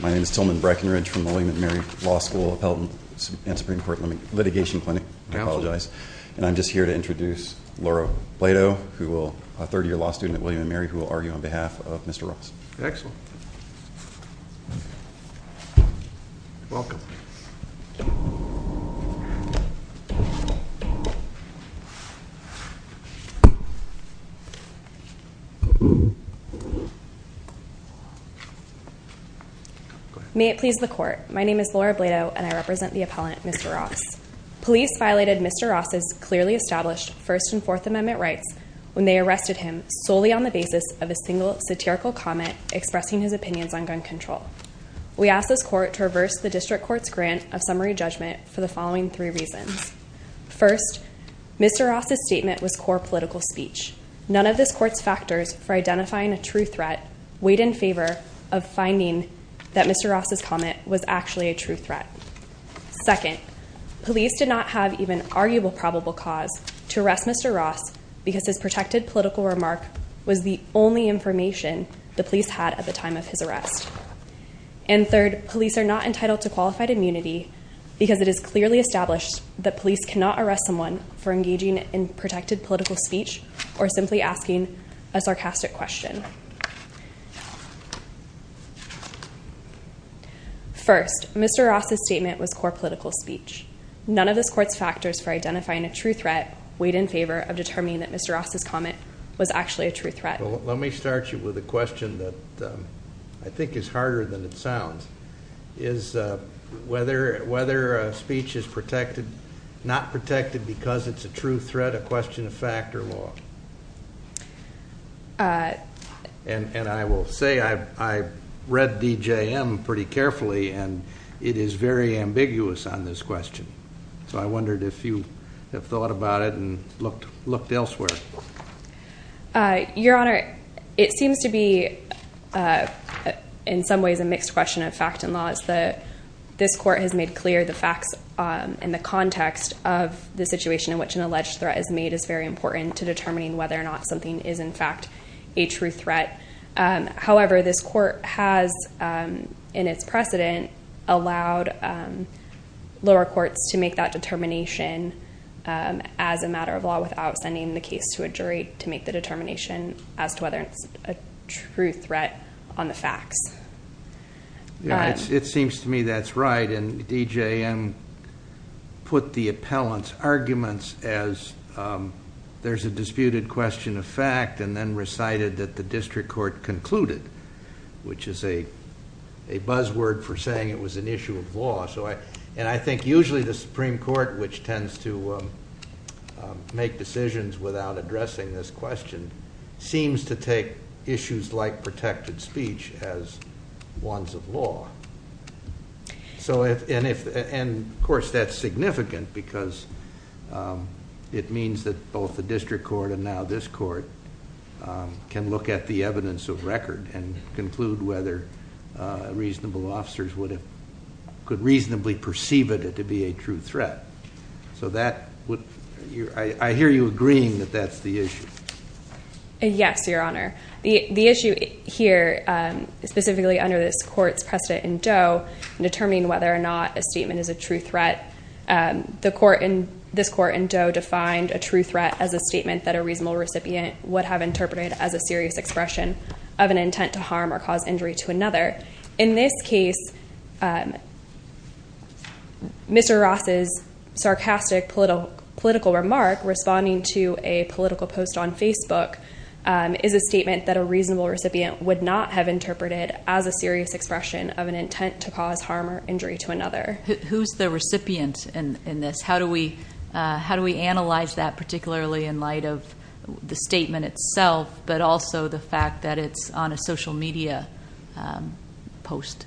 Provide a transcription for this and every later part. My name is Tilman Breckenridge from the William & Mary Law School Appellate and Supreme Court Litigation Clinic. I apologize. And I'm just here to introduce Laurel Plato, a third year law student at William & Mary who will argue on behalf of Mr. Ross. Excellent. Welcome. May it please the court, my name is Laura Blato and I represent the appellant, Mr. Ross. Police violated Mr. Ross' clearly established First and Fourth Amendment rights when they arrested him solely on the basis of a single satirical comment expressing his opinions on gun control. We ask this court to reverse the district court's grant of summary judgment for the following three reasons. First, Mr. Ross' statement was core political speech. None of this court's factors for identifying a true threat weighed in favor of finding that Mr. Ross' comment was actually a true threat. Second, police did not have even arguable probable cause to arrest Mr. Ross because his protected political remark was the only information the police had at the time of his arrest. And third, police are not entitled to qualified immunity because it is clearly established that police cannot arrest someone for simply asking a sarcastic question. First, Mr. Ross' statement was core political speech. None of this court's factors for identifying a true threat weighed in favor of determining that Mr. Ross' comment was actually a true threat. Let me start you with a question that I think is harder than it sounds. Is whether a speech is not protected because it's a true threat a question of fact or law? And I will say I read DJM pretty carefully and it is very ambiguous on this question. So I wondered if you have thought about it and looked elsewhere. Your Honor, it seems to be in some ways a mixed question of fact and law. It's that this court has made clear the facts and the context of the situation in which an alleged threat is made is very important to determining whether or not something is in fact a true threat. However, this court has, in its precedent, allowed lower courts to make that determination as a matter of law without sending the case to a jury to make the determination as to whether it's a true threat on the facts. It seems to me that's right, and DJM put the appellant's arguments as there's a disputed question of fact and then recited that the district court concluded, which is a buzzword for saying it was an issue of law. And I think usually the Supreme Court, which tends to make decisions without addressing this question, seems to take issues like protected speech as ones of law. And of course, that's significant because it means that both the district court and now this court can look at the evidence of record and conclude whether reasonable officers could reasonably perceive it to be a true threat. So I hear you agreeing that that's the issue. Yes, Your Honor. The issue here, specifically under this court's precedent in Doe, determining whether or not a statement is a true threat, this court in Doe defined a true threat as a statement that a reasonable recipient would have interpreted as a serious expression of an intent to harm or cause injury to another. In this case, Mr. Ross's sarcastic political remark, responding to a political post on Facebook, is a statement that a reasonable recipient would not have interpreted as a serious expression of an intent to cause harm or injury to another. Who's the recipient in this? How do we analyze that, particularly in light of the statement itself, but also the fact that it's on a social media post?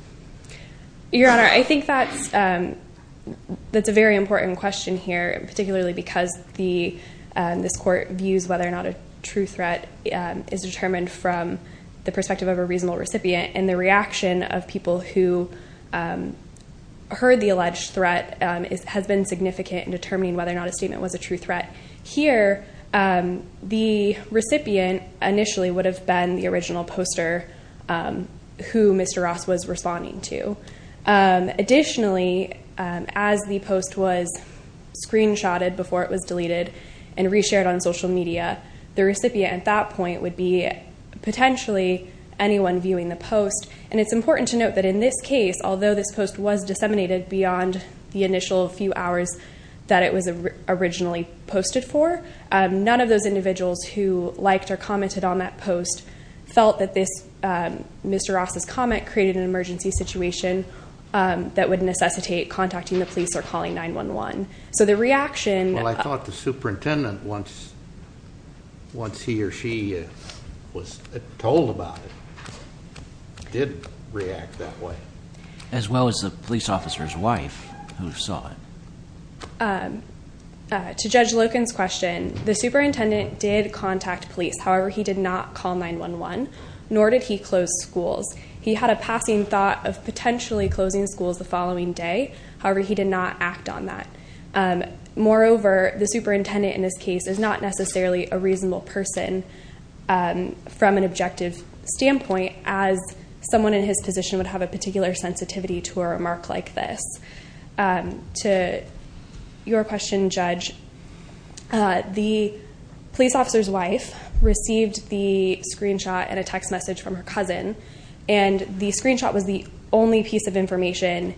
Your Honor, I think that's a very important question here, particularly because this court views whether or not a true threat is determined from the perspective of a reasonable recipient, and the reaction of people who heard the alleged threat has been significant in determining whether or not a statement was a true threat. Here, the recipient initially would have been the original poster who Mr. Ross was responding to. Additionally, as the post was screenshotted before it was deleted and reshared on social media, the recipient at that point would be potentially anyone viewing the post. And it's important to note that in this case, although this post was disseminated beyond the initial few hours that it was originally posted for, none of those individuals who liked or commented on that post felt that Mr. Ross's comment created an emergency situation that would necessitate contacting the police or calling 911. So the reaction- Well, I thought the superintendent, once he or she was told about it, did react that way. As well as the police officer's wife, who saw it. To Judge Loken's question, the superintendent did contact police. However, he did not call 911, nor did he close schools. He had a passing thought of potentially closing schools the following day. However, he did not act on that. Moreover, the superintendent in this case is not necessarily a reasonable person from an objective standpoint, as someone in his position would have a particular sensitivity to a remark like this. To your question, Judge, the police officer's wife received the screenshot and a text message from her cousin, and the screenshot was the only piece of information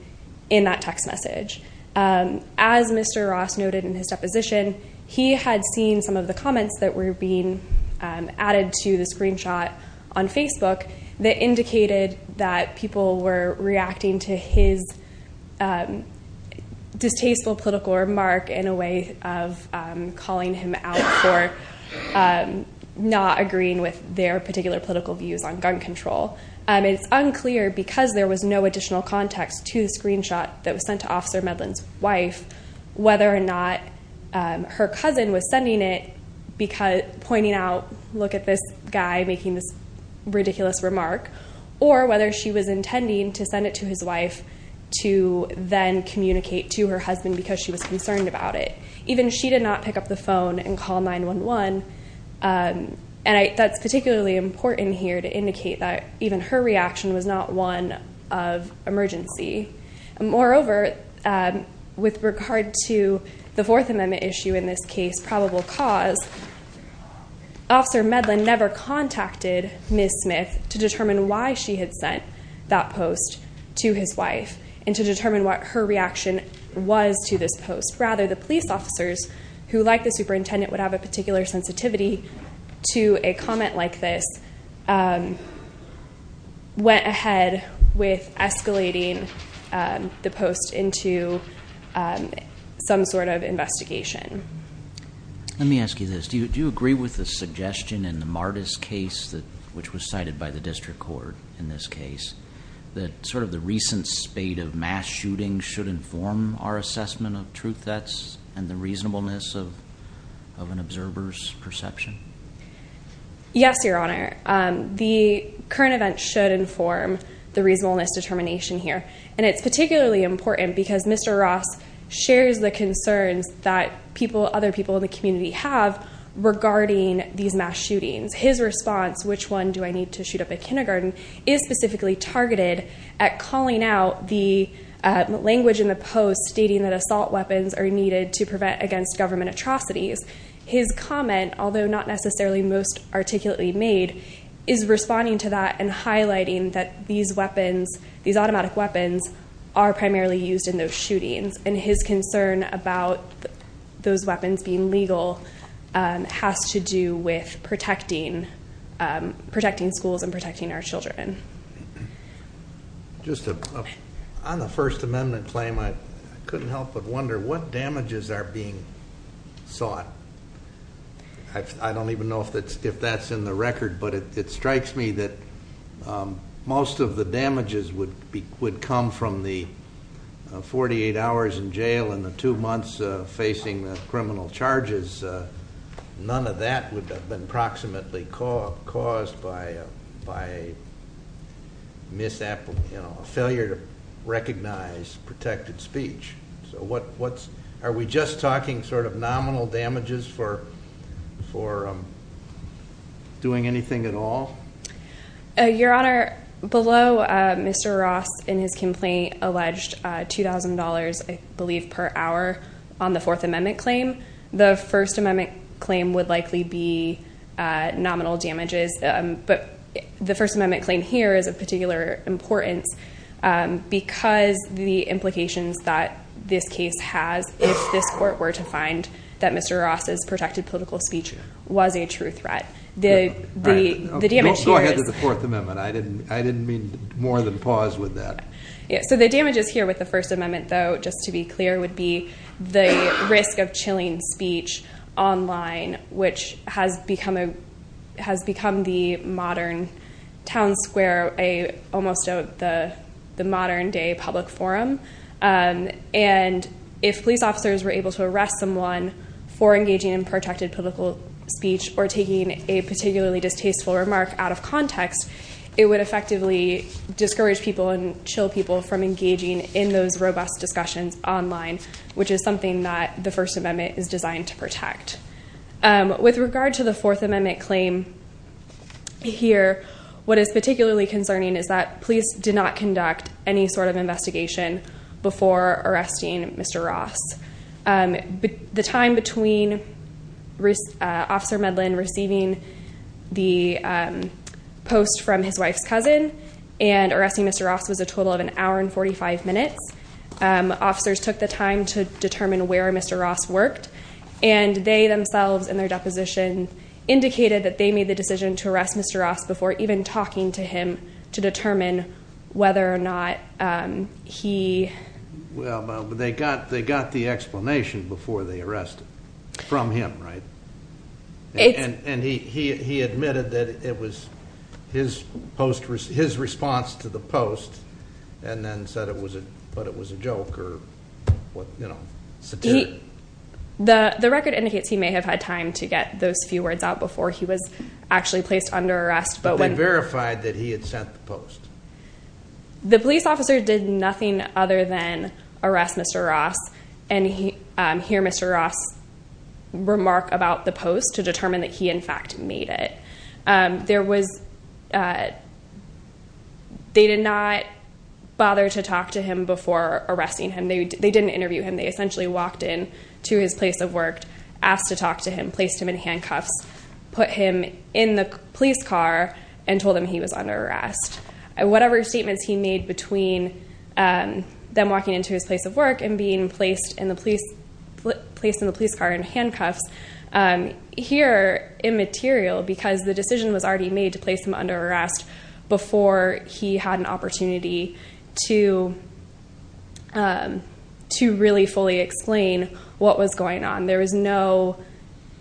in that text message. As Mr. Ross noted in his deposition, he had seen some of the comments that were being added to the screenshot on Facebook that indicated that people were reacting to his distasteful political remark in a way of calling him out for not agreeing with their particular political views on gun control. It's unclear, because there was no additional context to the screenshot that was sent to Officer Medlin's wife, whether or not her cousin was sending it pointing out, look at this guy making this ridiculous remark, or whether she was intending to send it to his wife to then communicate to her husband because she was concerned about it. Even she did not pick up the phone and call 911, and that's particularly important here to indicate that even her reaction was not one of emergency. Moreover, with regard to the Fourth Amendment issue in this case, probable cause, Officer Medlin never contacted Ms. Smith to determine why she had sent that post to his wife, and to determine what her reaction was to this post. Rather, the police officers, who, like the superintendent, would have a particular sensitivity to a comment like this, went ahead with escalating the post into some sort of investigation. Let me ask you this. Do you agree with the suggestion in the Martis case, which was cited by the district court in this case, that sort of the recent spate of mass shootings should inform our assessment of truth, that's, and the reasonableness of an observer's perception? Yes, Your Honor. The current event should inform the reasonableness determination here, and it's particularly important because Mr. Ross shares the concerns that people, other people in the community have regarding these mass shootings. His response, which one do I need to shoot up at kindergarten, is specifically targeted at calling out the language in the post stating that assault weapons are needed to prevent against government atrocities. His comment, although not necessarily most articulately made, is responding to that and highlighting that these automatic weapons are primarily used in those shootings. And his concern about those weapons being legal has to do with protecting schools and protecting our children. Just on the First Amendment claim, I couldn't help but wonder what damages are being sought. I don't even know if that's in the record, but it strikes me that most of the damages would come from the 48 hours in jail and the two months facing the criminal charges. None of that would have been approximately caused by a failure to recognize protected speech. So are we just talking sort of nominal damages for doing anything at all? Your Honor, below Mr. Ross in his complaint alleged $2,000 I believe per hour on the Fourth Amendment claim. The First Amendment claim would likely be nominal damages, but the First Amendment claim here is of particular importance because the implications that this case has if this court were to find that Mr. Ross's protected political speech was a true threat. The damage here is- Go ahead to the Fourth Amendment. I didn't mean more than pause with that. Yeah, so the damages here with the First Amendment though, just to be clear, would be the risk of chilling speech online, which has become the modern town square, almost the modern day public forum. And if police officers were able to arrest someone for engaging in protected political speech or taking a particularly distasteful remark out of context, it would effectively discourage people and chill people from engaging in those robust discussions online, which is something that the First Amendment is designed to protect. With regard to the Fourth Amendment claim here, what is particularly concerning is that police did not conduct any sort of investigation before arresting Mr. Ross. The time between Officer Medlin receiving the post from his wife's cousin and arresting Mr. Ross was a total of an hour and 45 minutes. Officers took the time to determine where Mr. Ross worked. And they themselves in their deposition indicated that they made the decision to arrest Mr. Ross before even talking to him to determine whether or not he- Well, but they got the explanation before they arrested, from him, right? And he admitted that it was his response to the post and then said it was a joke or, you know, satiric. The record indicates he may have had time to get those few words out before he was actually placed under arrest, but when- The police officer did nothing other than arrest Mr. Ross and hear Mr. Ross' remark about the post to determine that he, in fact, made it. There was- They did not bother to talk to him before arresting him. They didn't interview him. They essentially walked in to his place of work, asked to talk to him, placed him in handcuffs, put him in the police car, and told him he was under arrest. Whatever statements he made between them walking into his place of work and being placed in the police car in handcuffs, here, immaterial, because the decision was already made to place him under arrest before he had an opportunity to really fully explain what was going on. There was no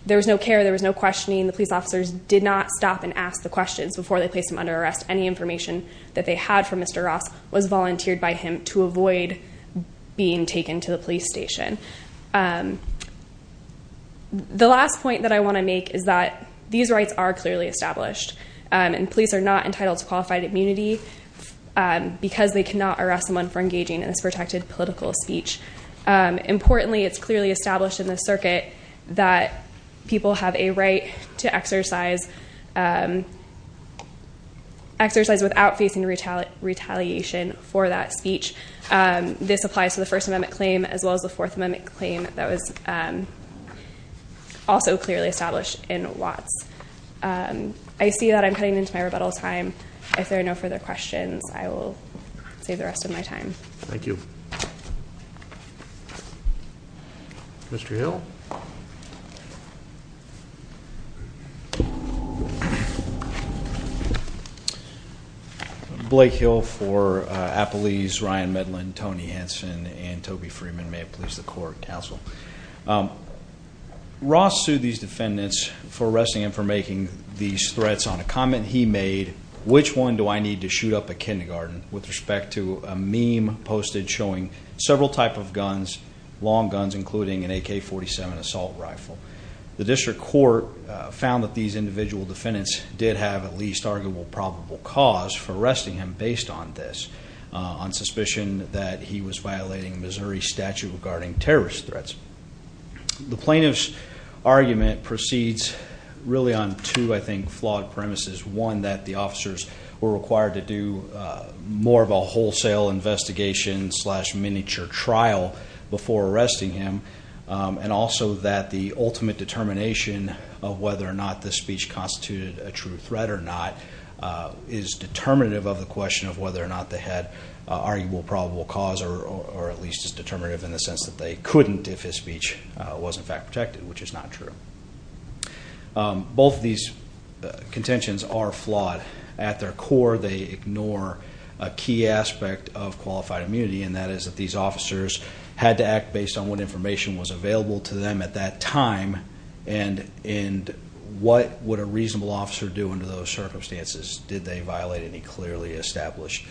care. There was no questioning. The police officers did not stop and ask the questions before they placed him under arrest. Any information that they had for Mr. Ross was volunteered by him to avoid being taken to the police station. The last point that I want to make is that these rights are clearly established, and police are not entitled to qualified immunity because they cannot arrest someone for engaging in this protected political speech. Importantly, it's clearly established in the circuit that people have a right to exercise without facing retaliation for that speech. This applies to the First Amendment claim as well as the Fourth Amendment claim that was also clearly established in Watts. I see that I'm cutting into my rebuttal time. If there are no further questions, I will save the rest of my time. Thank you. Mr. Hill. Blake Hill for Appalese, Ryan Medlin, Tony Hanson, and Toby Freeman, may it please the court, counsel. Ross sued these defendants for arresting him for making these threats on a comment he made, which one do I need to shoot up a kindergarten, with respect to a meme posted showing several type of guns, long guns, including an AK-47 assault rifle. The district court found that these individual defendants did have at least arguable probable cause for arresting him based on this, on suspicion that he was violating Missouri statute regarding terrorist threats. The plaintiff's argument proceeds really on two, I think, flawed premises. One, that the officers were required to do more of a wholesale investigation slash miniature trial before arresting him. And also that the ultimate determination of whether or not this speech constituted a true threat or not is determinative of the question of whether or not they had arguable probable cause, or at least is determinative in the sense that they couldn't if his speech was in fact protected, which is not true. Both of these contentions are flawed. At their core, they ignore a key aspect of qualified immunity, and that is that these officers had to act based on what information was available to them at that time. And what would a reasonable officer do under those circumstances? Did they violate any clearly established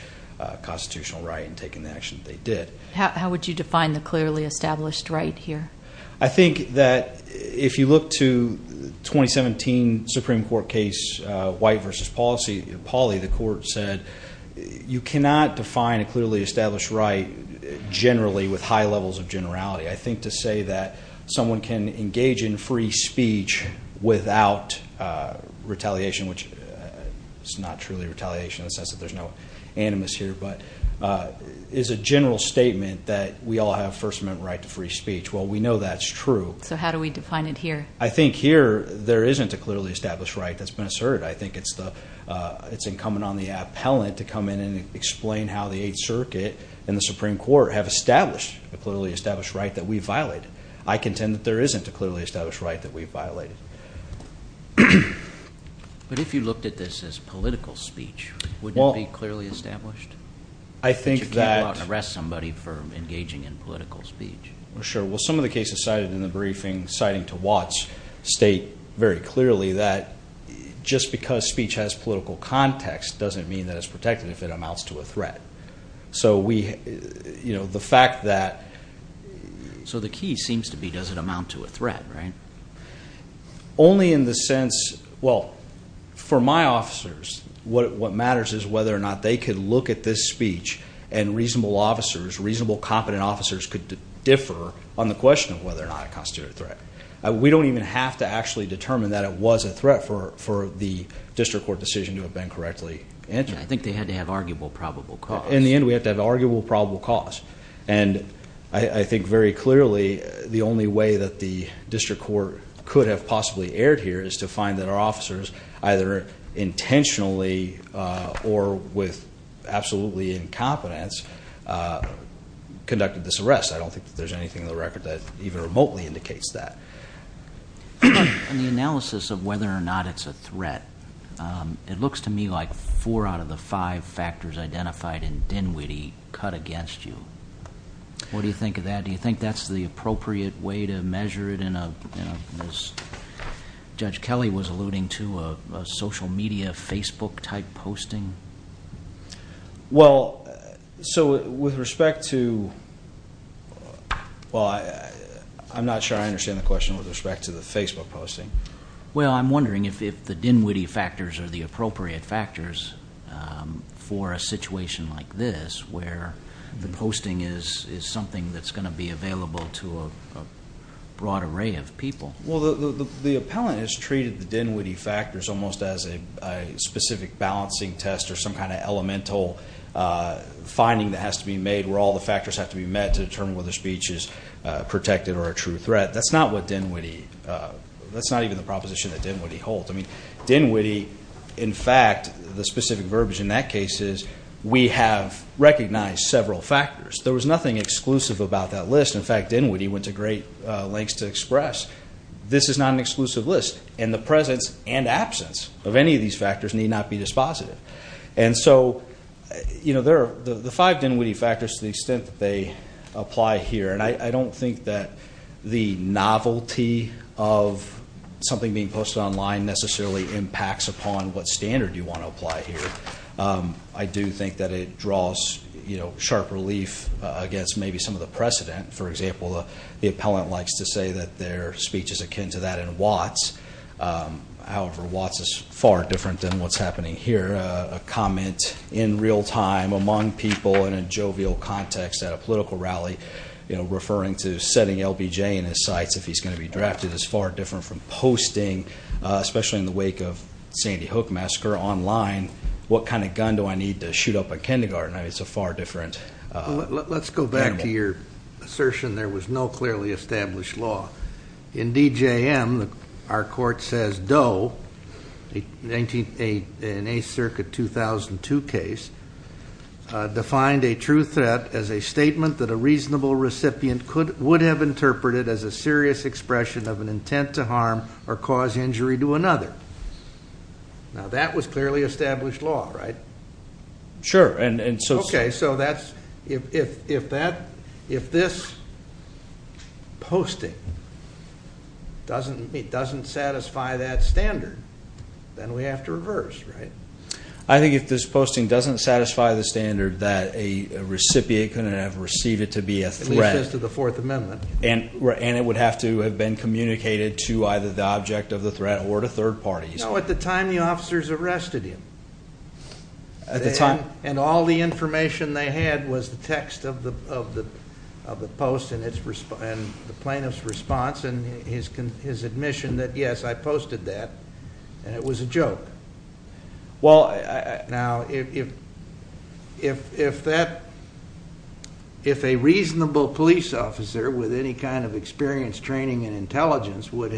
constitutional right in taking the action that they did? How would you define the clearly established right here? I think that if you look to 2017 Supreme Court case, White versus Pauly, the court said you cannot define a clearly established right generally with high levels of generality. I think to say that someone can engage in free speech without retaliation, which is not truly retaliation in the sense that there's no animus here, but is a general statement that we all have first amendment right to free speech. Well, we know that's true. So how do we define it here? I think here, there isn't a clearly established right that's been asserted. I think it's incumbent on the appellant to come in and explain how the Eighth Circuit and the Supreme Court have established a clearly established right that we violated. I contend that there isn't a clearly established right that we violated. But if you looked at this as political speech, would it be clearly established? I think that- You can't go out and arrest somebody for engaging in political speech. Sure. Well, some of the cases cited in the briefing, citing to Watts, state very clearly that just because speech has political context doesn't mean that it's protected if it amounts to a threat. So the key seems to be does it amount to a threat, right? Only in the sense, well, for my officers, what matters is whether or not they could look at this speech and reasonable officers, could differ on the question of whether or not it constitutes a threat. We don't even have to actually determine that it was a threat for the district court decision to have been correctly entered. I think they had to have arguable probable cause. In the end, we have to have arguable probable cause. And I think very clearly, the only way that the district court could have possibly erred here is to find that our officers, either intentionally or with absolutely incompetence, conducted this arrest. I don't think that there's anything in the record that even remotely indicates that. In the analysis of whether or not it's a threat, it looks to me like four out of the five factors identified in Dinwiddie cut against you. What do you think of that? Do you think that's the appropriate way to measure it in a, as Judge Kelly was alluding to, a social media Facebook type posting? Well, so with respect to, well I'm not sure I understand the question with respect to the Facebook posting. Well, I'm wondering if the Dinwiddie factors are the appropriate factors for a situation like this where the posting is something that's going to be available to a broad array of people. Well, the appellant has treated the Dinwiddie factors almost as a specific balancing test or some kind of elemental finding that has to be made where all the factors have to be met to determine whether speech is protected or a true threat. That's not what Dinwiddie, that's not even the proposition that Dinwiddie holds. I mean, Dinwiddie, in fact, the specific verbiage in that case is we have recognized several factors. There was nothing exclusive about that list. In fact, Dinwiddie went to great lengths to express, this is not an exclusive list. And the presence and absence of any of these factors need not be dispositive. And so, the five Dinwiddie factors, to the extent that they apply here, and I don't think that the novelty of something being posted online necessarily impacts upon what standard you want to apply here, I do think that it draws sharp relief against maybe some of the precedent. For example, the appellant likes to say that their speech is akin to that in Watts. However, Watts is far different than what's happening here. A comment in real time among people in a jovial context at a political rally, referring to setting LBJ in his sights if he's going to be drafted is far different from posting, especially in the wake of Sandy Hook massacre online, what kind of gun do I need to shoot up at kindergarten? It's a far different- Let's go back to your assertion there was no clearly established law. In DJM, our court says Doe, in a circuit 2002 case, defined a true threat as a statement that a reasonable recipient would have interpreted as a serious expression of an intent to harm or cause injury to another. Now that was clearly established law, right? Sure, and so- Okay, so that's, if this posting doesn't satisfy that standard, then we have to reverse, right? I think if this posting doesn't satisfy the standard that a recipient couldn't have received it to be a threat- It leads us to the Fourth Amendment. And it would have to have been communicated to either the object of the threat or to third parties. No, at the time, the officers arrested him. At the time? And all the information they had was the text of the post and the plaintiff's response and his admission that, yes, I posted that, and it was a joke. Well, now, if a reasonable police officer with any kind of experience, training, and intelligence would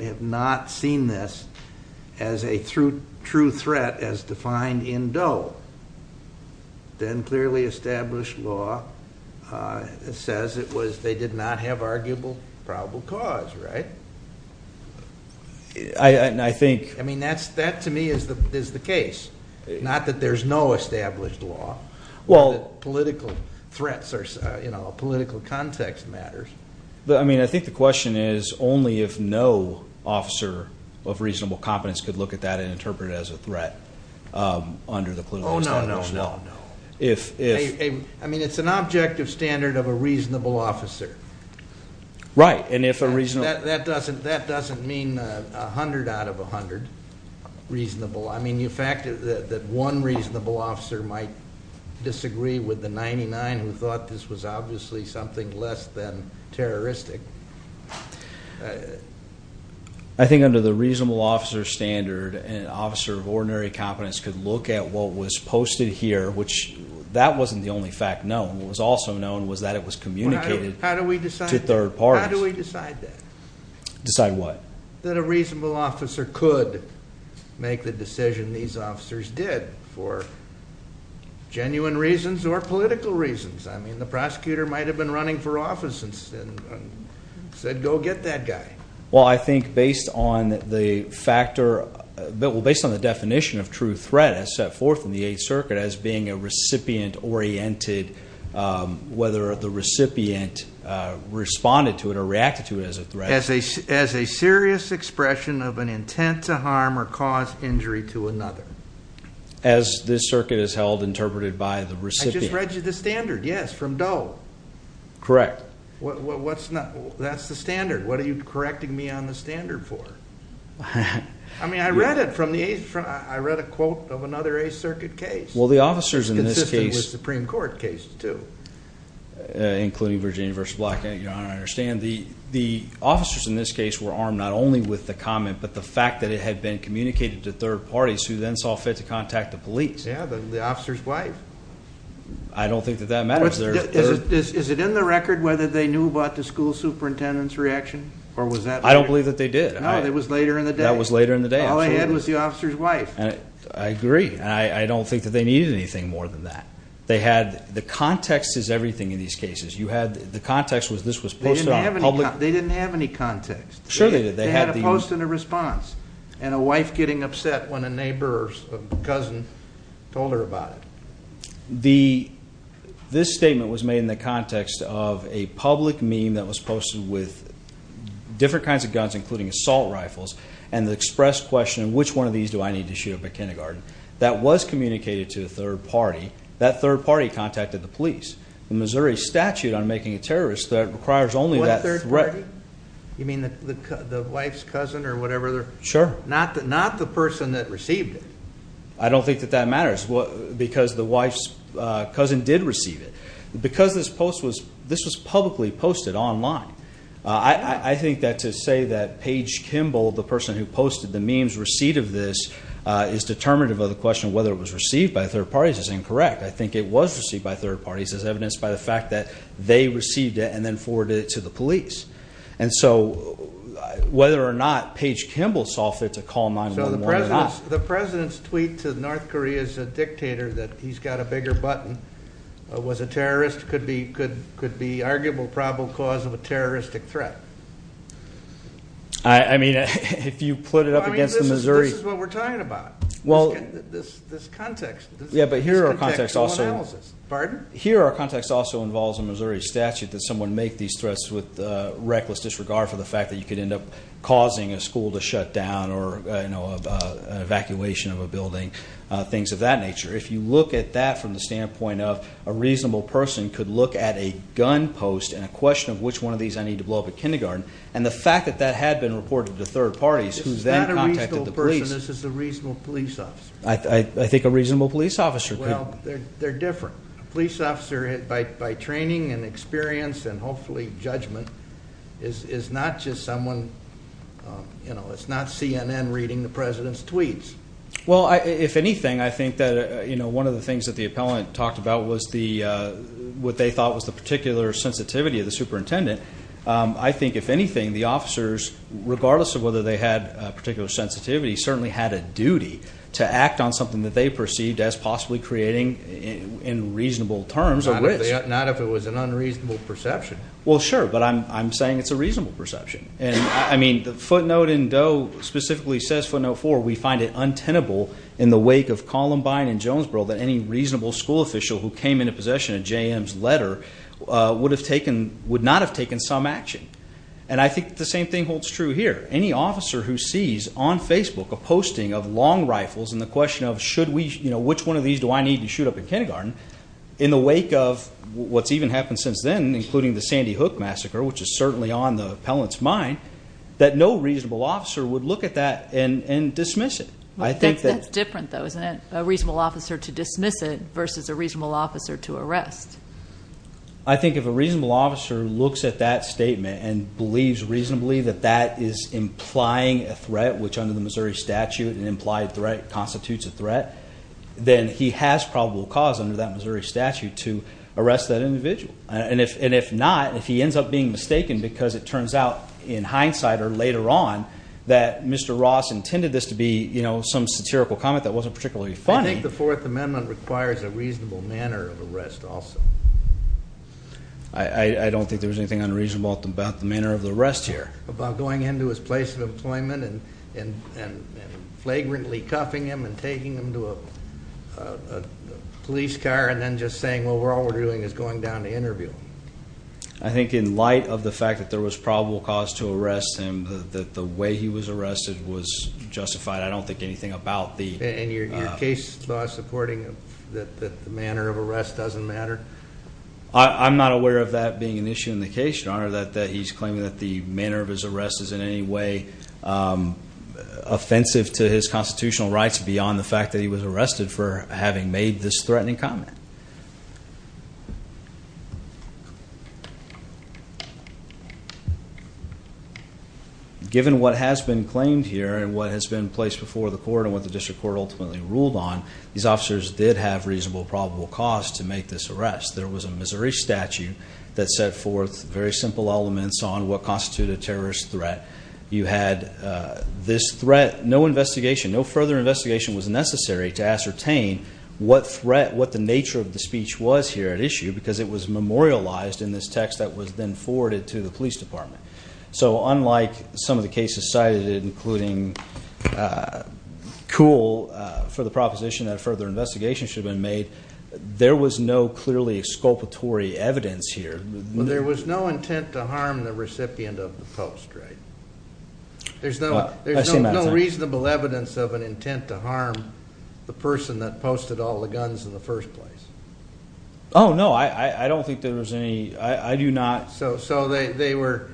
have not seen this as a true threat as defined in Doe, then clearly established law says it was, they did not have arguable probable cause, right? I think- I mean, that to me is the case. Not that there's no established law, but that political threats or political context matters. But I mean, I think the question is only if no officer of reasonable competence could look at that and interpret it as a threat under the political context. No, no, no, no. If- I mean, it's an objective standard of a reasonable officer. Right, and if a reasonable- That doesn't mean 100 out of 100 reasonable. I mean, the fact that one reasonable officer might disagree with the 99 who thought this was obviously something less than terroristic. I think under the reasonable officer standard, an officer of ordinary competence could look at what was posted here, which that wasn't the only fact known. What was also known was that it was communicated to third parties. How do we decide that? How do we decide that? Decide what? That a reasonable officer could make the decision these officers did for genuine reasons or political reasons. I mean, the prosecutor might have been running for office and said, go get that guy. Well, I think based on the factor, well, based on the definition of true threat as set forth in the Eighth Circuit as being a recipient-oriented, whether the recipient responded to it or reacted to it as a threat. As a serious expression of an intent to harm or cause injury to another. As this circuit is held, interpreted by the recipient. I just read you the standard, yes, from Doe. Correct. What's not, that's the standard. What are you correcting me on the standard for? I mean, I read it from the, I read a quote of another Eighth Circuit case. Well, the officers in this case- It's consistent with Supreme Court cases, too. Including Virginia v. Black, Your Honor, I understand. The officers in this case were armed not only with the comment, but the fact that it had been communicated to third parties who then saw fit to contact the police. Yeah, the officer's wife. I don't think that that matters. Is it in the record whether they knew about the school superintendent's reaction, or was that- I don't believe that they did. No, it was later in the day. That was later in the day, absolutely. All they had was the officer's wife. I agree, and I don't think that they needed anything more than that. They had, the context is everything in these cases. You had, the context was this was post-armed. They didn't have any context. Sure they did. They had a post and a response. And a wife getting upset when a neighbor's cousin told her about it. This statement was made in the context of a public meme that was posted with different kinds of guns, including assault rifles, and the express question, which one of these do I need to shoot up at kindergarten? That was communicated to a third party. That third party contacted the police. The Missouri statute on making a terrorist, that requires only that- What third party? You mean the wife's cousin or whatever? Sure. Not the person that received it. I don't think that that matters, because the wife's cousin did receive it. Because this post was, this was publicly posted online. I think that to say that Paige Kimball, the person who posted the meme's receipt of this, is determinative of the question of whether it was received by third parties is incorrect. I think it was received by third parties as evidenced by the fact that they received it and then forwarded it to the police. And so, whether or not Paige Kimball saw fit to call 911 or not- The President's tweet to North Korea's dictator that he's got a bigger button, was a terrorist, could be arguable probable cause of a terroristic threat. I mean, if you put it up against the Missouri- This is what we're talking about. This context. Yeah, but here our context also- This context is on analysis. Pardon? Here our context also involves a Missouri statute that someone make these threats with reckless disregard for the fact that you could end up causing a school to shut down or an evacuation of a building, things of that nature. If you look at that from the standpoint of a reasonable person could look at a gun post and a question of which one of these I need to blow up at kindergarten, and the fact that that had been reported to third parties, who then contacted the police- This is not a reasonable person, this is a reasonable police officer. I think a reasonable police officer could- Well, they're different. A police officer, by training and experience and hopefully judgment, is not just someone, it's not CNN reading the President's tweets. Well, if anything, I think that one of the things that the appellant talked about was what they thought was the particular sensitivity of the superintendent. I think, if anything, the officers, regardless of whether they had a particular sensitivity, certainly had a duty to act on something that they perceived as possibly creating, in reasonable terms, a risk. Not if it was an unreasonable perception. Well, sure, but I'm saying it's a reasonable perception. I mean, the footnote in Doe specifically says, footnote four, we find it untenable in the wake of Columbine and Jonesboro that any reasonable school official who came into possession of JM's letter would not have taken some action. And I think the same thing holds true here. Any officer who sees on Facebook a posting of long rifles and the question of, which one of these do I need to shoot up in kindergarten, in the wake of what's even happened since then, including the Sandy Hook massacre, which is certainly on the appellant's mind, that no reasonable officer would look at that and dismiss it. I think that- That's different, though, isn't it? A reasonable officer to dismiss it versus a reasonable officer to arrest. I think if a reasonable officer looks at that statement and believes reasonably that that is implying a threat, which under the Missouri statute, an implied threat constitutes a threat, then he has probable cause under that Missouri statute to arrest that individual. And if not, if he ends up being mistaken because it turns out, in hindsight or later on, that Mr. Ross intended this to be some satirical comment that wasn't particularly funny- I don't think there was anything unreasonable about the manner of the arrest here. About going into his place of employment and flagrantly cuffing him and taking him to a police car and then just saying, well, all we're doing is going down to interview him. I think in light of the fact that there was probable cause to arrest him, that the way he was arrested was justified. I don't think anything about the- And your case law supporting that the manner of arrest doesn't matter? I'm not aware of that being an issue in the case, Your Honor, that he's claiming that the manner of his arrest is in any way offensive to his constitutional rights beyond the fact that he was arrested for having made this threatening comment. Given what has been claimed here and what has been placed before the court and what the district court ultimately ruled on, these officers did have reasonable probable cause to make this arrest. There was a Missouri statute that set forth very simple elements on what constituted a terrorist threat. You had this threat, no investigation, no further investigation was necessary to ascertain what the nature of the speech was here at issue because it was memorialized in this text that was then forwarded to the police department. So unlike some of the cases cited, including Kuhl for the proposition that a further investigation should have been made, there was no clearly exculpatory evidence here. There was no intent to harm the recipient of the post, right? There's no reasonable evidence of an intent to harm the person that posted all the guns in the first place. No, I don't think there was any, I do not. So there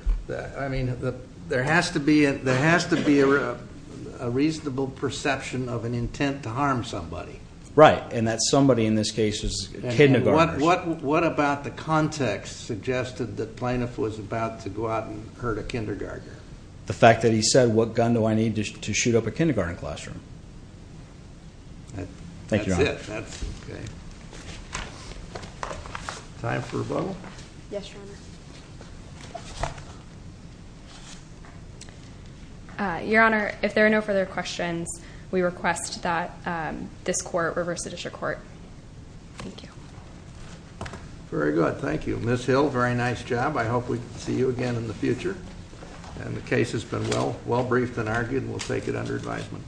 has to be a reasonable perception of an intent to harm somebody. Right, and that somebody in this case is a kindergartner. What about the context suggested that Planoff was about to go out and hurt a kindergartner? The fact that he said, what gun do I need to shoot up a kindergarten classroom? Thank you, Your Honor. That's it, that's okay. Time for a vote? Yes, Your Honor. Your Honor, if there are no further questions, we request that this court reverse the district court. Thank you. Very good, thank you. Ms. Hill, very nice job. I hope we can see you again in the future. And the case has been well briefed and argued, and we'll take it under advisement.